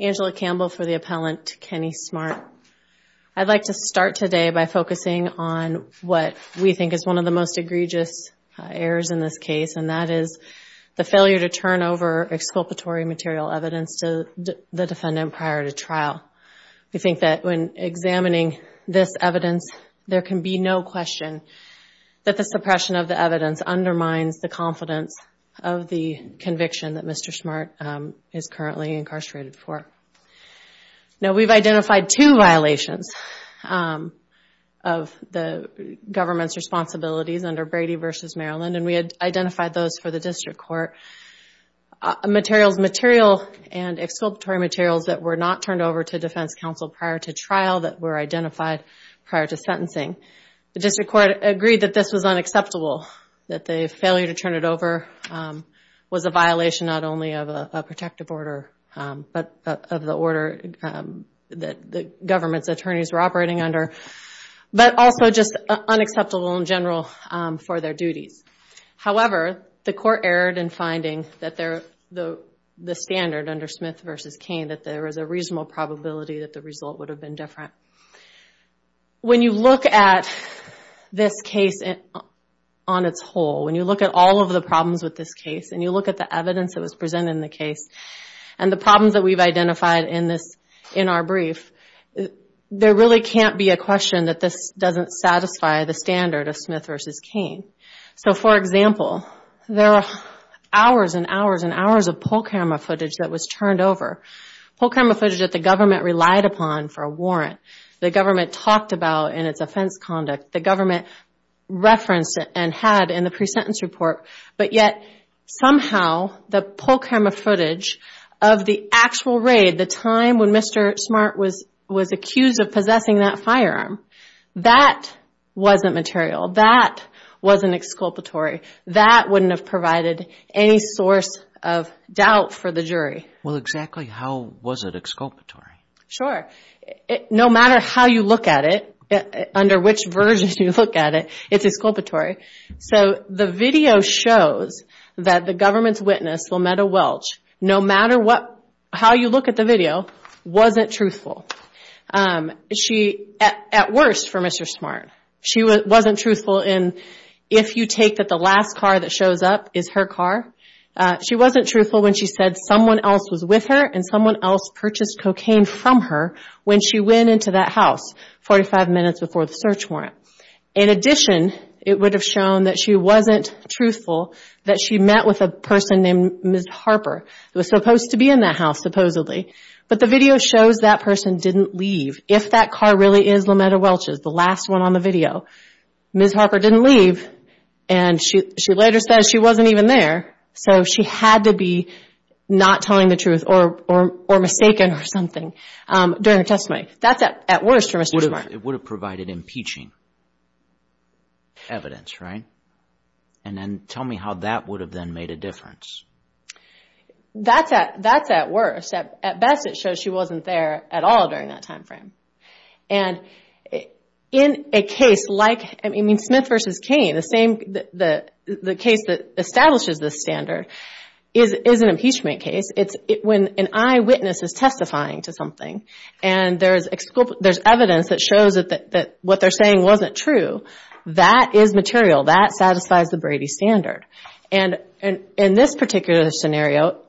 Angela Campbell for the appellant Kenny Smart. I'd like to start today by focusing on what we think is one of the most egregious errors in this case, and that is the failure to turn over exculpatory material evidence to the defendant prior to trial. We think that when examining this evidence, there can be no question that the suppression of the evidence undermines the confidence of the conviction that Mr. Smart is currently incarcerated for. Now we've identified two violations of the government's responsibilities under Brady v. Maryland, and we had identified those for the district court. Materials, material and exculpatory materials that were not turned over to defense counsel prior to trial that were identified prior to sentencing. The district court agreed that this was unacceptable, that the failure to turn it over was a violation not only of a protective order, but of the order that the government's attorneys were operating under, but also just unacceptable in general for their duties. However, the court erred in finding that the standard under Smith v. Cain, that there was a reasonable probability that the result would have been different. When you look at this case on its whole, when you look at all of the problems with this case, and you look at the evidence that was presented in the case, and the problems that we've identified in our brief, there really can't be a question that this doesn't satisfy the standard of Smith v. Cain. So for example, there are hours and hours and hours of pull camera footage that was turned over. Pull camera footage that the government relied upon for a warrant, the government talked about in its offense conduct, the government referenced it and had in the pre-sentence report, but yet somehow the pull camera footage of the actual raid, the time when Mr. Smart was accused of possessing that firearm, that wasn't material. That wasn't exculpatory. That wouldn't have provided any source of doubt for the jury. Well, exactly how was it exculpatory? Sure. No matter how you look at it, under which version you look at it, it's exculpatory. So the video shows that the government's witness, Lometa Welch, no matter how you look at the video, wasn't truthful. At worst for Mr. Smart, she wasn't truthful in if you take that the last car that shows up is her car. She wasn't truthful when she said someone else was with her and someone else purchased cocaine from her when she went into that house 45 minutes before the search warrant. In addition, it would have shown that she wasn't truthful that she met with a person named Ms. Harper who was supposed to be in that house supposedly. But the video shows that person didn't leave. If that car really is Lometa Welch's, the last one on the video, Ms. Harper didn't leave and she later says she wasn't even there. So she had to be not telling the truth or mistaken or something during her testimony. That's at worst for Mr. Smart. It would have provided impeaching evidence, right? And then tell me how that would have then made a difference. That's at worst. At best, it shows she wasn't there at all during that time frame. And in a case like Smith v. Cain, the case that establishes this standard is an impeachment case. It's when an eyewitness is testifying to something and there's evidence that shows that what they're saying wasn't true. That is material. That satisfies the Brady Standard. And in this particular scenario,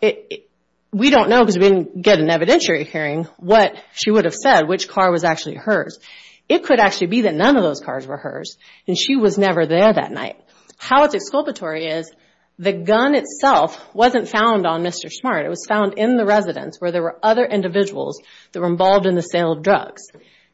we don't know because we didn't get an evidentiary hearing what she would have said, which car was actually hers. It could actually be that none of those cars were hers and she was never there that night. How it's exculpatory is the gun itself wasn't found on Mr. Smart. It was found in the residence where there were other individuals that were involved in the sale of drugs.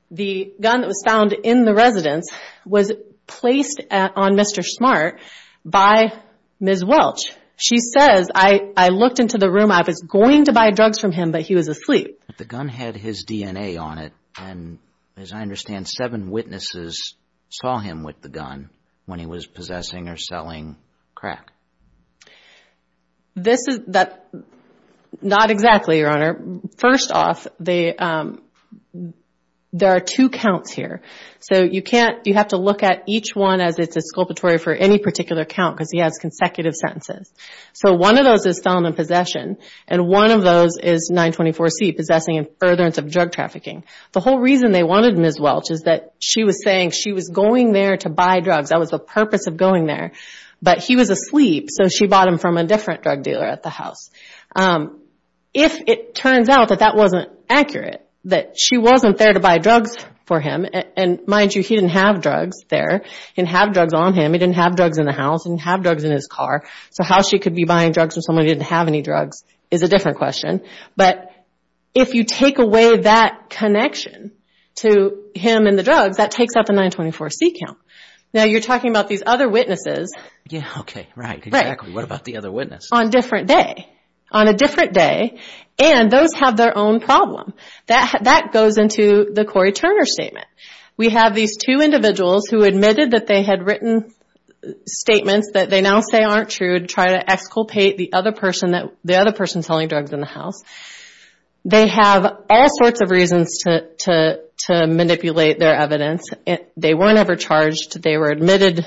The gun that was found in the residence was placed on Mr. Smart by Ms. Welch. She says, I looked into the room. I was going to buy drugs from him, but he was asleep. But the gun had his DNA on it. And as I understand, seven witnesses saw him with the gun when he was possessing or selling crack. Not exactly, Your Honor. First off, there are two counts here. So you have to look at each one as it's exculpatory for any particular count because he has consecutive sentences. So one of those is selling and possession, and one of those is 924C, possessing and furtherance of drug trafficking. The whole reason they wanted Ms. Welch is that she was saying she was going there to buy drugs. That was the purpose of going there. But he was asleep, so she bought them from a different drug dealer at the house. If it turns out that that wasn't accurate, that she wasn't there to buy drugs for him, and mind you, he didn't have drugs there. He didn't have drugs on him. He didn't have drugs in the house. He didn't have drugs in his car. So how she could be buying drugs from someone who didn't have any drugs is a different question. But if you take away that connection to him and the drugs, that takes up a 924C count. Now you're talking about these other witnesses. Yeah, okay, right, exactly. What about the other witness? On a different day, and those have their own problem. That goes into the Corey Turner statement. We have these two individuals who admitted that they had written statements that they now say aren't true to try to exculpate the other person selling drugs in the house. They have all sorts of reasons to manipulate their evidence. They weren't ever charged. They were admitted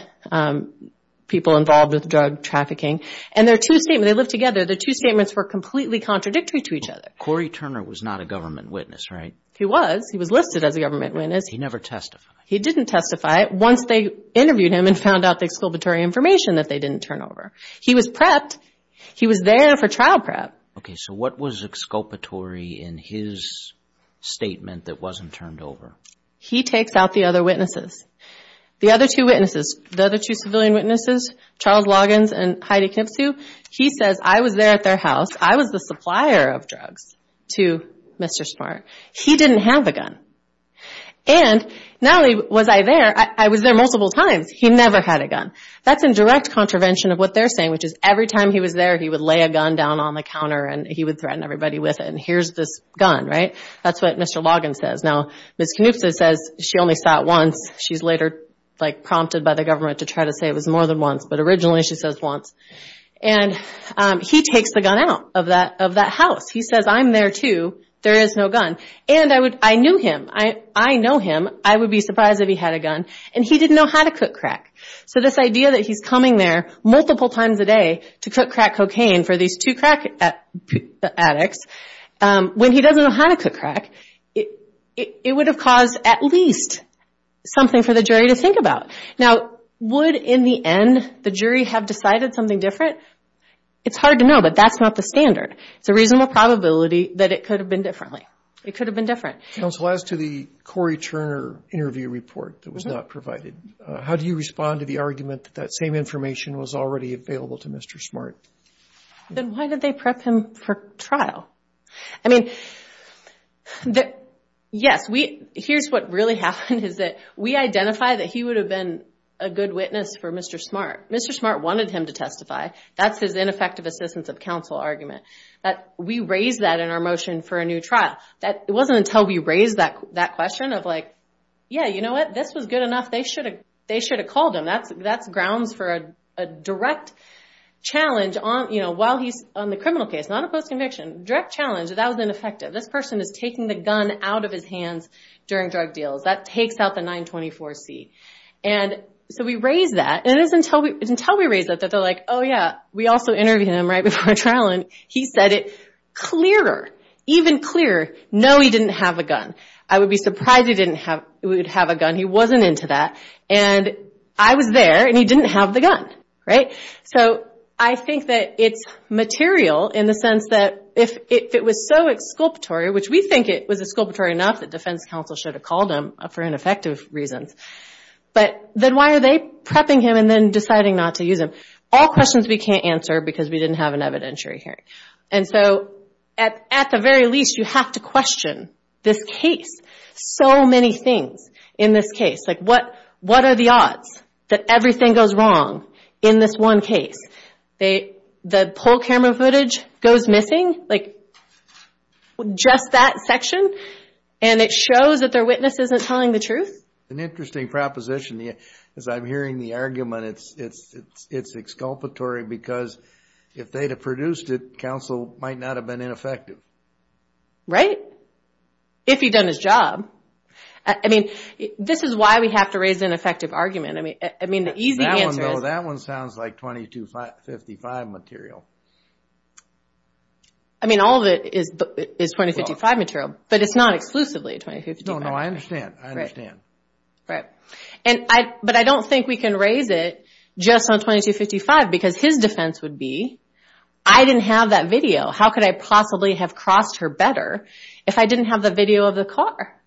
people involved with drug trafficking. And their two statements, they lived together. Their two statements were completely contradictory to each other. Corey Turner was not a government witness, right? He was. He was listed as a government witness. He never testified. He didn't testify. Once they interviewed him and found out the exculpatory information that they didn't turn over. He was prepped. He was there for trial prep. Okay, so what was exculpatory in his statement that wasn't turned over? He takes out the other witnesses. The other two witnesses, the other two civilian witnesses, Charles Loggins and Heidi Knipsue, he says, I was there at their house. I was the supplier of drugs to Mr. Smart. He didn't have a gun. And not only was I there, I was there multiple times. He never had a gun. That's in direct contravention of what they're saying, which is every time he was there, he would lay a gun down on the counter and he would threaten everybody with it. And here's this gun, right? That's what Mr. Loggins says. Now, Ms. Knipsue says she only saw it once. She's later prompted by the government to try to say it was more than once, but originally she says once. And he takes the gun out of that house. He says, I'm there too. There is no gun. And I knew him. I know him. I would be surprised if he had a gun. And he didn't know how to cook crack. So this idea that he's coming there multiple times a day to cook crack cocaine for these two crack addicts, when he doesn't know how to cook crack, it would have caused at least something for the jury to think about. Now, would, in the end, the jury have decided something different? It's hard to know, but that's not the standard. It's a reasonable probability that it could have been differently. It could have been different. Counsel, as to the Corey Turner interview report that was not provided, how do you respond to the argument that that same information was already available to Mr. Smart? Then why did they prep him for trial? I mean, yes, here's what really happened is that we identified that he would have been a good witness for Mr. Smart. Mr. Smart wanted him to testify. That's his ineffective assistance of counsel argument. We raised that in our motion for a new trial. It wasn't until we raised that question of like, yeah, you know what, this was good enough. They should have called him. That's grounds for a direct challenge while he's on the criminal case, not a post-conviction. Direct challenge that that was ineffective. This person is taking the gun out of his hands during drug deals. That takes out the 924C. So we raised that. It isn't until we raised that that they're like, oh, yeah, we also interviewed him right before a trial, and he said it clearer, even clearer, no, he didn't have a gun. I would be surprised he didn't have a gun. He wasn't into that. And I was there, and he didn't have the gun, right? So I think that it's material in the sense that if it was so exculpatory, which we think it was exculpatory enough that defense counsel should have called him for ineffective reasons, but then why are they prepping him and then deciding not to use him? All questions we can't answer because we didn't have an evidentiary hearing. And so at the very least, you have to question this case. So many things in this case, like what are the odds that everything goes wrong in this one case? The poll camera footage goes missing? Like just that section? And it shows that their witness isn't telling the truth? An interesting proposition. As I'm hearing the argument, it's exculpatory because if they'd have produced it, counsel might not have been ineffective. Right? If he'd done his job. I mean, this is why we have to raise an effective argument. I mean, the easy answer is... That one, though, that one sounds like 2255 material. I mean, all of it is 2255 material, but it's not exclusively 2255. No, no, I understand. I understand. Right. But I don't think we can raise it just on 2255 because his defense would be, I didn't have that video. How could I possibly have crossed her better if I didn't have the video of the car?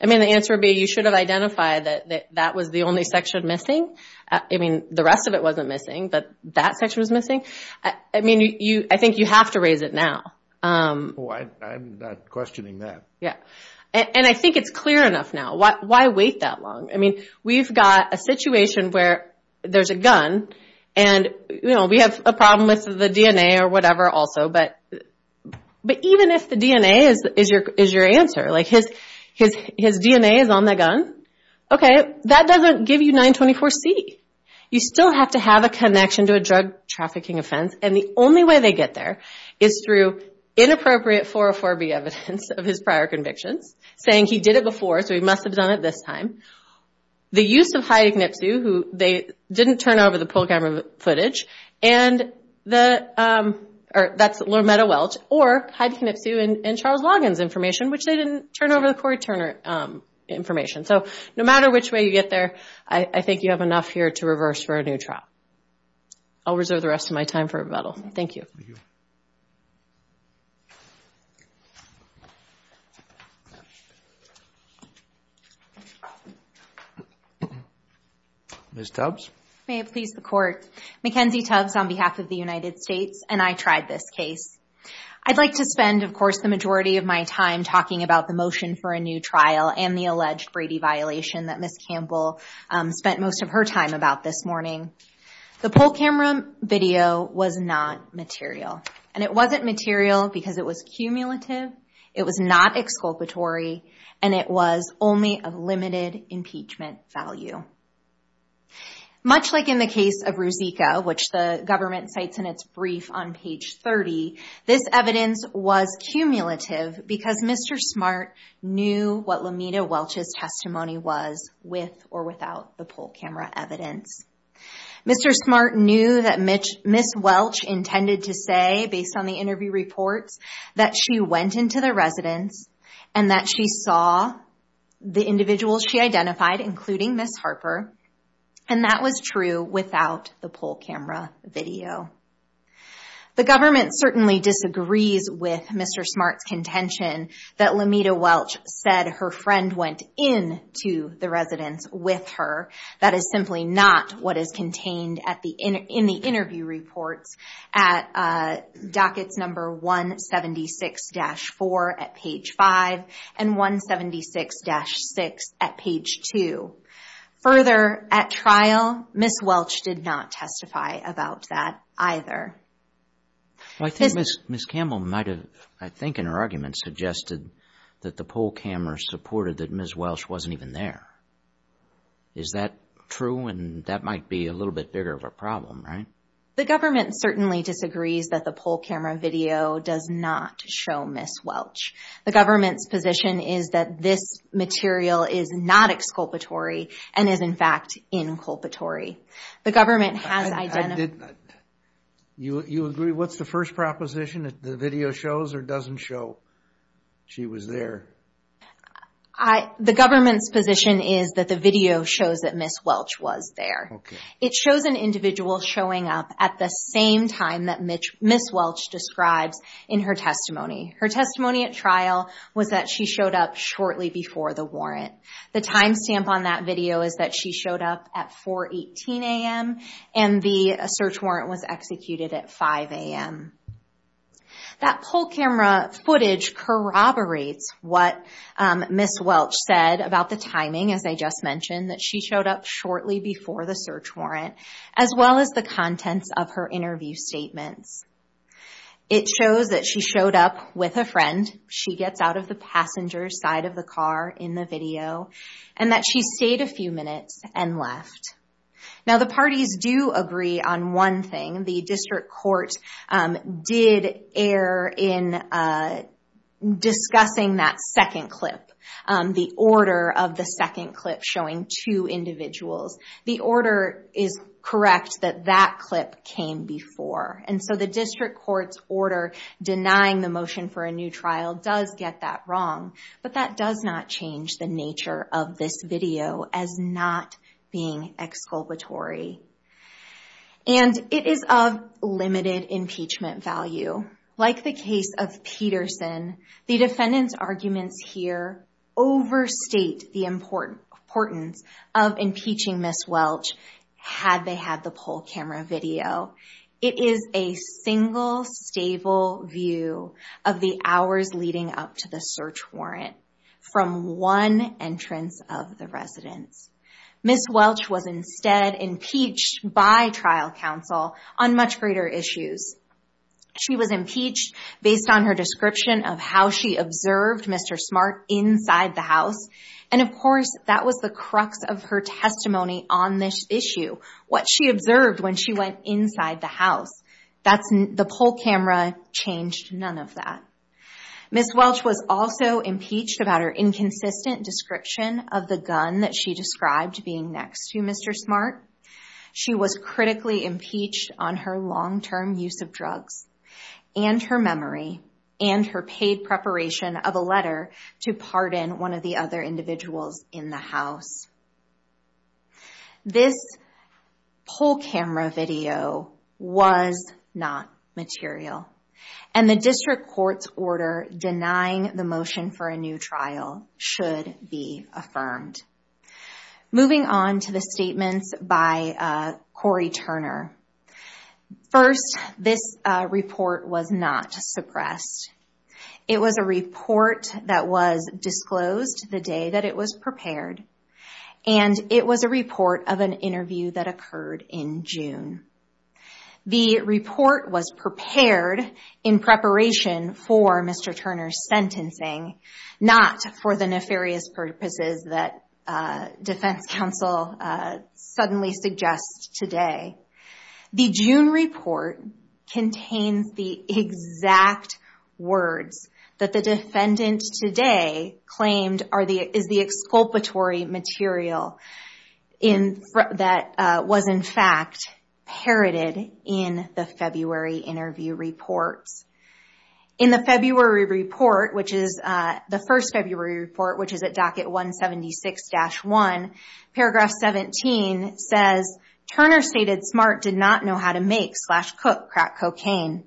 I mean, the answer would be you should have identified that that was the only section missing. I mean, the rest of it wasn't missing, but that section was missing. I mean, I think you have to raise it now. I'm not questioning that. Yeah. And I think it's clear enough now. Why wait that long? I mean, we've got a situation where there's a gun, and we have a problem with the DNA or whatever also, but even if the DNA is your answer, like his DNA is on that gun, okay, that doesn't give you 924C. You still have to have a connection to a drug trafficking offense, and the only way they get there is through inappropriate 404B evidence of his prior convictions, saying he did it before, so he must have done it this time. The use of Heidi Knipsue, who they didn't turn over the poll camera footage, and that's Loretta Welch, or Heidi Knipsue and Charles Loggins' information, which they didn't turn over the Corey Turner information. So no matter which way you get there, I think you have enough here to reverse for a new trial. I'll reserve the rest of my time for rebuttal. Thank you. Thank you. Ms. Tubbs. May it please the Court. Mackenzie Tubbs on behalf of the United States, and I tried this case. I'd like to spend, of course, the majority of my time talking about the motion for a new trial and the alleged Brady violation that Ms. Campbell spent most of her time about this morning. The poll camera video was not material, and it wasn't material because it was cumulative, it was not exculpatory, and it was only of limited impeachment value. Much like in the case of Ruzicka, which the government cites in its brief on page 30, this evidence was cumulative because Mr. Smart knew what Lameda Welch's testimony was with or without the poll camera evidence. Mr. Smart knew that Ms. Welch intended to say, based on the interview reports, that she went into the residence and that she saw the individuals she identified, including Ms. Harper, and that was true without the poll camera video. The government certainly disagrees with Mr. Smart's contention that Lameda Welch said her friend went into the residence with her. That is simply not what is contained in the interview reports at dockets number 176-4 at page 5 and 176-6 at page 2. Further, at trial, Ms. Welch did not testify about that either. I think Ms. Campbell might have, I think in her argument, suggested that the poll camera supported that Ms. Welch wasn't even there. Is that true? And that might be a little bit bigger of a problem, right? The government certainly disagrees that the poll camera video does not show Ms. Welch. The government's position is that this material is not exculpatory and is, in fact, inculpatory. The government has identified... You agree? What's the first proposition? That the video shows or doesn't show she was there? The government's position is that the video shows that Ms. Welch was there. It shows an individual showing up at the same time that Ms. Welch describes in her testimony. Her testimony at trial was that she showed up shortly before the warrant. The timestamp on that video is that she showed up at 4.18 a.m. and the search warrant was executed at 5 a.m. That poll camera footage corroborates what Ms. Welch said about the timing, as I just mentioned, that she showed up shortly before the search warrant, as well as the contents of her interview statements. It shows that she showed up with a friend. She gets out of the passenger side of the car in the video, and that she stayed a few minutes and left. Now, the parties do agree on one thing. The district court did err in discussing that second clip, the order of the second clip showing two individuals. The order is correct that that clip came before, and so the district court's order denying the motion for a new trial does get that wrong, but that does not change the nature of this video as not being exculpatory. And it is of limited impeachment value. Like the case of Peterson, the defendant's arguments here overstate the importance of impeaching Ms. Welch, had they had the poll camera video. It is a single stable view of the hours leading up to the search warrant from one entrance of the residence. Ms. Welch was instead impeached by trial counsel on much greater issues. She was impeached based on her description of how she observed Mr. Smart inside the house, and of course, that was the crux of her testimony on this issue. What she observed when she went inside the house. The poll camera changed none of that. Ms. Welch was also impeached about her inconsistent description of the gun that she described being next to Mr. Smart. She was critically impeached on her long-term use of drugs, and her memory, and her paid preparation of a letter to pardon one of the other individuals in the house. This poll camera video was not material. And the district court's order denying the motion for a new trial should be affirmed. Moving on to the statements by Corey Turner. First, this report was not suppressed. It was a report that was disclosed the day that it was prepared. And it was a report of an interview that occurred in June. The report was prepared in preparation for Mr. Turner's sentencing, not for the nefarious purposes that defense counsel suddenly suggests today. The June report contains the exact words that the defendant today claimed is the exculpatory material that was in fact parroted in the February interview reports. In the February report, which is the first February report, which is at docket 176-1, paragraph 17 says, Turner stated Smart did not know how to make slash cook crack cocaine.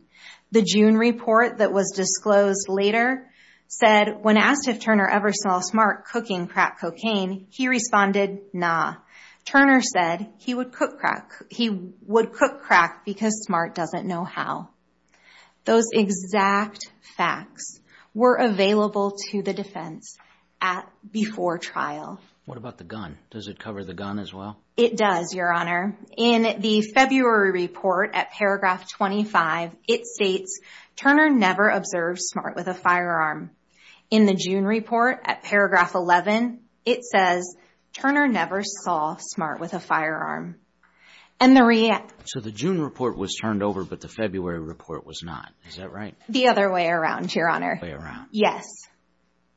The June report that was disclosed later said, when asked if Turner ever saw Smart cooking crack cocaine, he responded, nah. Turner said he would cook crack because Smart doesn't know how. Those exact facts were available to the defense before trial. What about the gun? Does it cover the gun as well? It does, Your Honor. In the February report at paragraph 25, it states, Turner never observed Smart with a firearm. In the June report at paragraph 11, it says, Turner never saw Smart with a firearm. So the June report was turned over, but the February report was not. Is that right? The other way around, Your Honor. The other way around. Yes.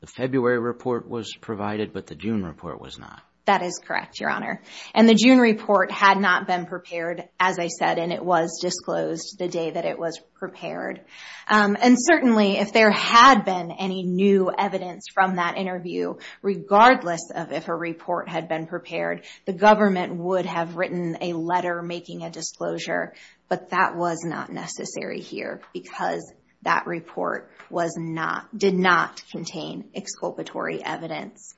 The February report was provided, but the June report was not. That is correct, Your Honor. And the June report had not been prepared, as I said, and it was disclosed the day that it was prepared. And certainly, if there had been any new evidence from that interview, regardless of if a report had been prepared, the government would have written a letter making a disclosure, but that was not necessary here because that report did not contain exculpatory evidence.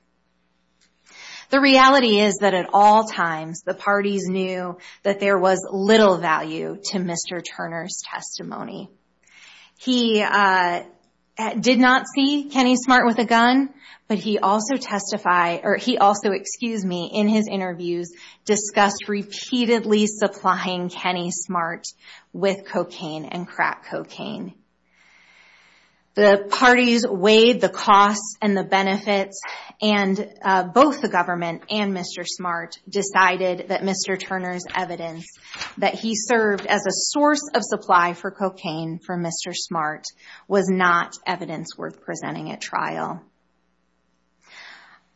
The reality is that at all times, the parties knew that there was little value to Mr. Turner's testimony. He did not see Kenny Smart with a gun, but he also testified, or he also, excuse me, in his interviews, discussed repeatedly supplying Kenny Smart with cocaine and crack cocaine. The parties weighed the costs and the benefits, and both the government and Mr. Smart decided that Mr. Turner's evidence that he served as a source of supply for cocaine for Mr. Smart was not evidence worth presenting at trial.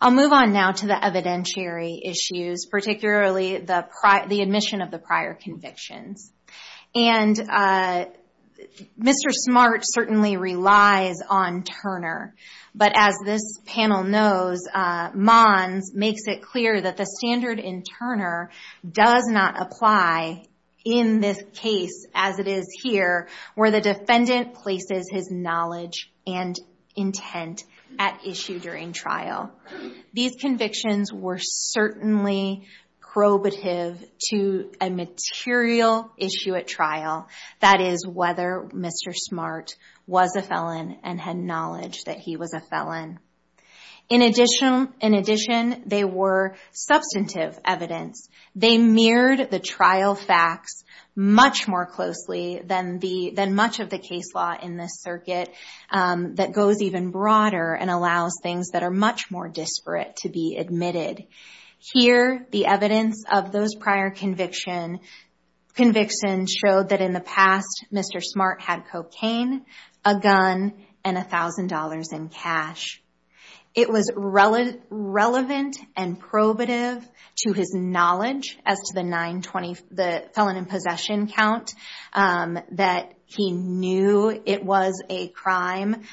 I'll move on now to the evidentiary issues, particularly the admission of the prior convictions. And Mr. Smart certainly relies on Turner, but as this panel knows, Mons makes it clear that the standard in Turner does not apply in this case as it is here where the defendant places his knowledge and intent at issue during trial. These convictions were certainly probative to a material issue at trial, that is whether Mr. Smart was a felon and had knowledge that he was a felon. In addition, they were substantive evidence. They mirrored the trial facts much more closely than much of the case law in this circuit that goes even broader and allows things that are much more disparate to be admitted. Here, the evidence of those prior convictions showed that in the past, Mr. Smart had cocaine, a gun, and $1,000 in cash. It was relevant and probative to his knowledge as to the felon in possession count that he knew it was a crime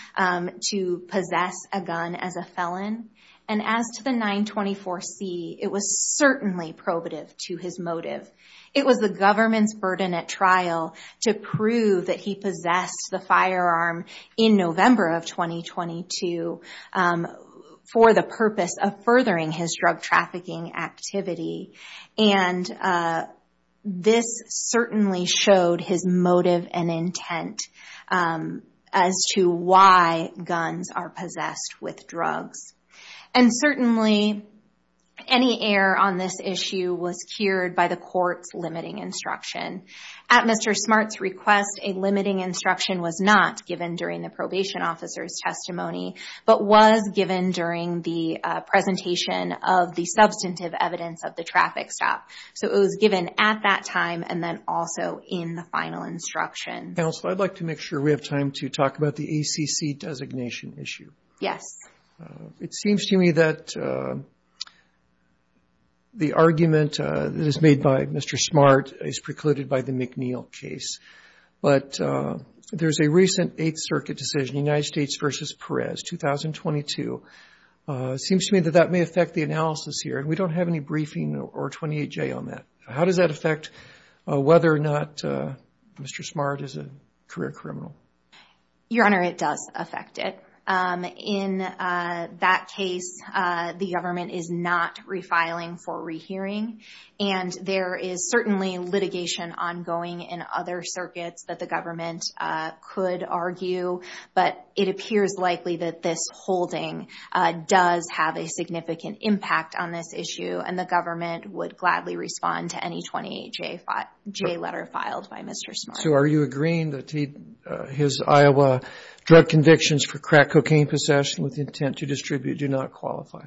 to possess a gun as a felon. And as to the 924C, it was certainly probative to his motive. It was the government's burden at trial to prove that he possessed the firearm in November of 2022 for the purpose of furthering his drug trafficking activity. And this certainly showed his motive and intent as to why guns are possessed with drugs. And certainly, any error on this issue was cured by the court's limiting instruction. At Mr. Smart's request, a limiting instruction was not given during the probation officer's testimony, but was given during the presentation of the substantive evidence of the traffic stop. So it was given at that time and then also in the final instruction. Counsel, I'd like to make sure we have time to talk about the ACC designation issue. Yes. It seems to me that the argument that is made by Mr. Smart is precluded by the McNeil case. But there's a recent Eighth Circuit decision, United States v. Perez, 2022. It seems to me that that may affect the analysis here. And we don't have any briefing or 28J on that. How does that affect whether or not Mr. Smart is a career criminal? Your Honor, it does affect it. In that case, the government is not refiling for rehearing. And there is certainly litigation ongoing in other circuits that the government could argue. But it appears likely that this holding does have a significant impact on this issue. And the government would gladly respond to any 28J letter filed by Mr. Smart. So are you agreeing that his Iowa drug convictions for crack cocaine possession with intent to distribute do not qualify?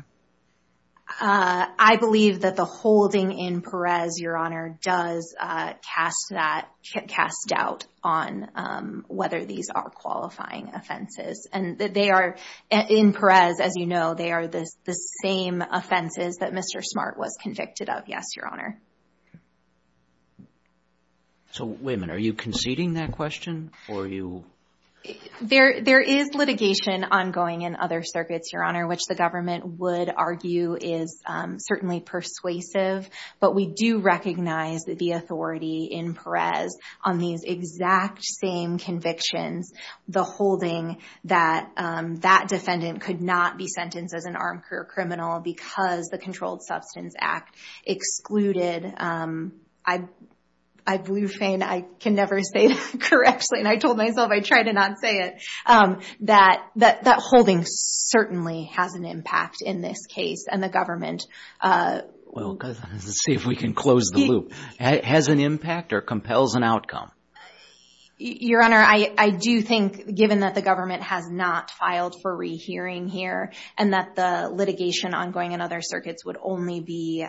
I believe that the holding in Perez, Your Honor, does cast doubt on whether these are qualifying offenses. And they are, in Perez, as you know, they are the same offenses that Mr. Smart was convicted of. Yes, Your Honor. So, wait a minute, are you conceding that question? There is litigation ongoing in other circuits, Your Honor, which the government would argue is certainly persuasive. But we do recognize the authority in Perez on these exact same convictions. The holding that that defendant could not be sentenced as an armed career criminal because the Controlled Substance Act excluded. I blew a fan, I can never say it correctly, and I told myself I'd try to not say it. That holding certainly has an impact in this case, and the government... Well, let's see if we can close the loop. Has an impact or compels an outcome? Your Honor, I do think, given that the government has not filed for rehearing here, and that the litigation ongoing in other circuits would only be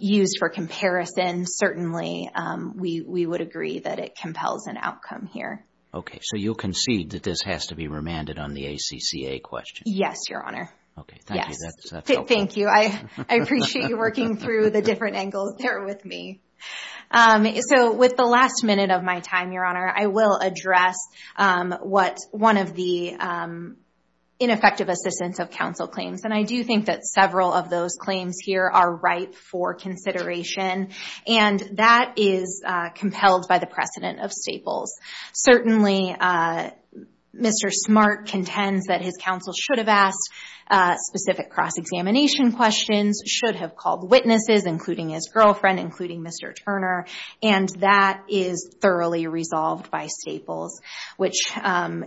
used for comparison, certainly we would agree that it compels an outcome here. Okay, so you'll concede that this has to be remanded on the ACCA question? Yes, Your Honor. Thank you, I appreciate you working through the different angles there with me. So with the last minute of my time, Your Honor, I will address what one of the ineffective assistance of counsel claims. And I do think that several of those claims here are ripe for consideration, and that is compelled by the precedent of Staples. Certainly, Mr. Smart contends that his counsel should have asked specific cross-examination questions, should have called witnesses, including his girlfriend, including Mr. Turner, and that is thoroughly resolved by Staples, which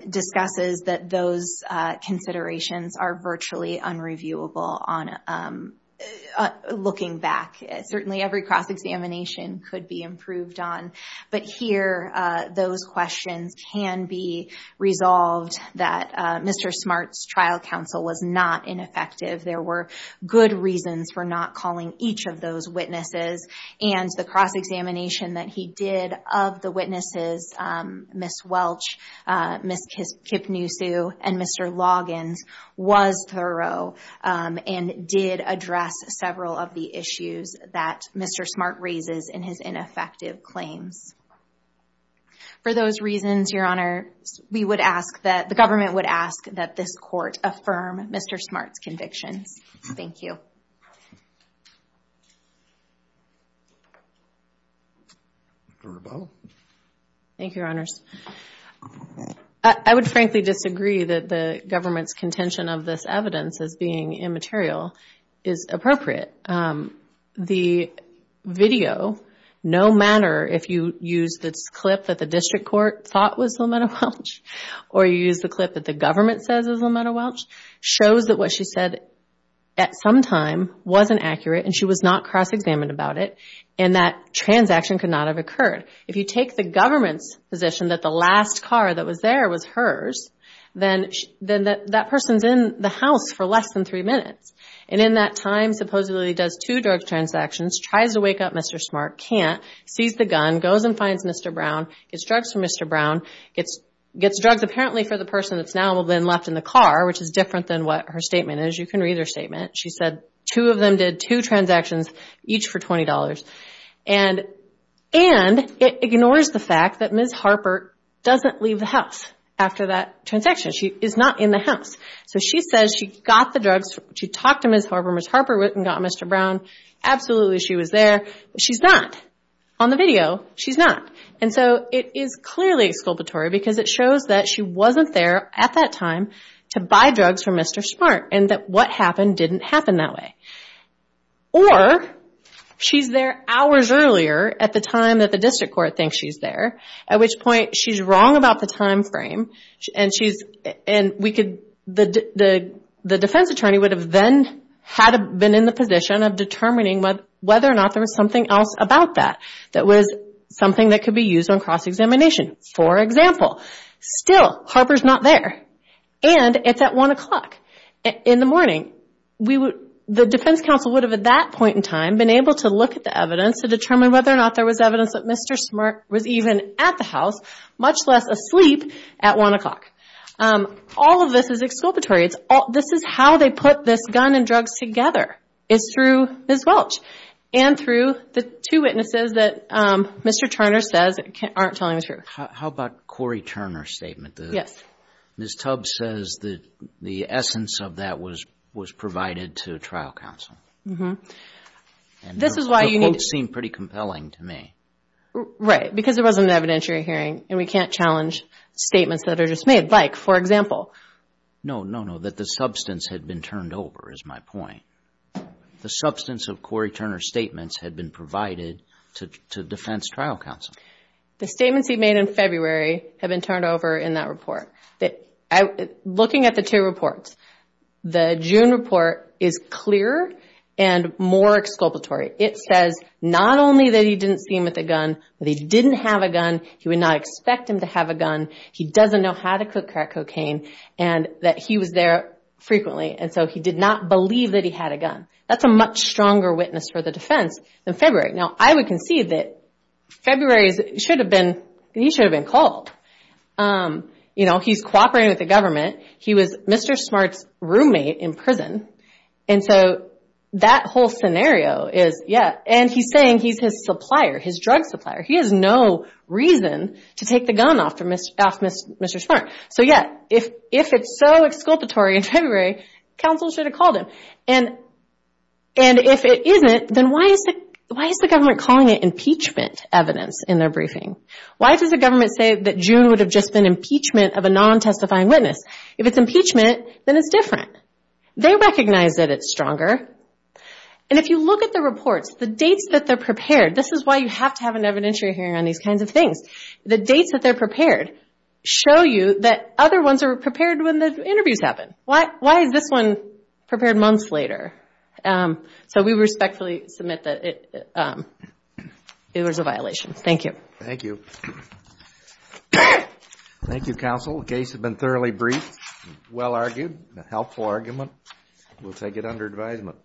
discusses that those considerations are virtually unreviewable on... Looking back, certainly every cross-examination could be improved on. But here, those questions can be resolved that Mr. Smart's trial counsel was not ineffective. There were good reasons for not calling each of those witnesses, and the cross-examination that he did of the witnesses, Ms. Welch, Ms. Kipnusu, and Mr. Loggins, was thorough and did address several of the issues that Mr. Smart raises in his ineffective claims. For those reasons, Your Honor, we would ask that, the government would ask that this court affirm Mr. Smart's convictions. Thank you. Thank you, Your Honors. I would frankly disagree that the government's contention of this evidence as being immaterial is appropriate. The video, no matter if you use this clip that the district court thought was Lamenta Welch, or you use the clip that the government says is Lamenta Welch, shows that what she said at some time wasn't accurate, and she was not cross-examined about it, and that transaction could not have occurred. If you take the government's position that the last car that was there was hers, then that person's in the house for less than three minutes. And in that time, supposedly does two drug transactions, tries to wake up Mr. Smart, can't, sees the gun, goes and finds Mr. Brown, gets drugs from Mr. Brown, gets drugs apparently for the person that's now been left in the car, which is different than what her statement is. You can read her statement. She said two of them did two transactions, each for $20. And it ignores the fact that Ms. Harper doesn't leave the house after that transaction. She is not in the house. So she says she got the drugs. She talked to Ms. Harper. Ms. Harper went and got Mr. Brown. Absolutely, she was there, but she's not. On the video, she's not. And so it is clearly exculpatory because it shows that she wasn't there at that time to buy drugs from Mr. Smart, and that what happened didn't happen that way. Or she's there hours earlier at the time that the district court thinks she's there, at which point she's wrong about the time frame. And the defense attorney would have then had been in the position of determining whether or not there was something else about that that was something that could be used on cross-examination. For example, still, Harper's not there, and it's at 1 o'clock in the morning. The defense counsel would have, at that point in time, been able to look at the evidence to determine whether or not there was evidence that Mr. Smart was even at the house, much less asleep at 1 o'clock. All of this is exculpatory. This is how they put this gun and drugs together, is through Ms. Welch and through the two witnesses that Mr. Turner says aren't telling the truth. How about Corey Turner's statement? Yes. Ms. Tubbs says that the essence of that was provided to trial counsel. The quotes seem pretty compelling to me. Right, because it was an evidentiary hearing, and we can't challenge statements that are just made. Like, for example... No, no, no, that the substance had been turned over is my point. The substance of Corey Turner's statements had been provided to defense trial counsel. The statements he made in February have been turned over in that report. Looking at the two reports, the June report is clearer and more exculpatory. It says not only that he didn't see him with a gun, that he didn't have a gun, he would not expect him to have a gun, he doesn't know how to crack cocaine, and that he was there frequently, and so he did not believe that he had a gun. That's a much stronger witness for the defense than February. Now, I would concede that February, he should have been called. You know, he's cooperating with the government. He was Mr. Smart's roommate in prison, and so that whole scenario is, yeah, and he's saying he's his supplier, his drug supplier. He has no reason to take the gun off Mr. Smart. So yeah, if it's so exculpatory in February, counsel should have called him. And if it isn't, then why is the government calling it impeachment evidence in their briefing? Why does the government say that June would have just been impeachment of a non-testifying witness? If it's impeachment, then it's different. They recognize that it's stronger. And if you look at the reports, the dates that they're prepared, this is why you have to have an evidentiary hearing on these kinds of things. The dates that they're prepared show you that other ones are prepared when the interviews happen. Why is this one prepared months later? So we respectfully submit that it was a violation. Thank you. Thank you. Thank you, counsel. The case has been thoroughly briefed, well argued, a helpful argument. We'll take it under advisement.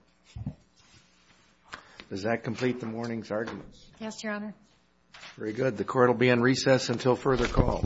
Does that complete the morning's arguments? Yes, Your Honor. Very good. The court will be in recess until further call. Thank you.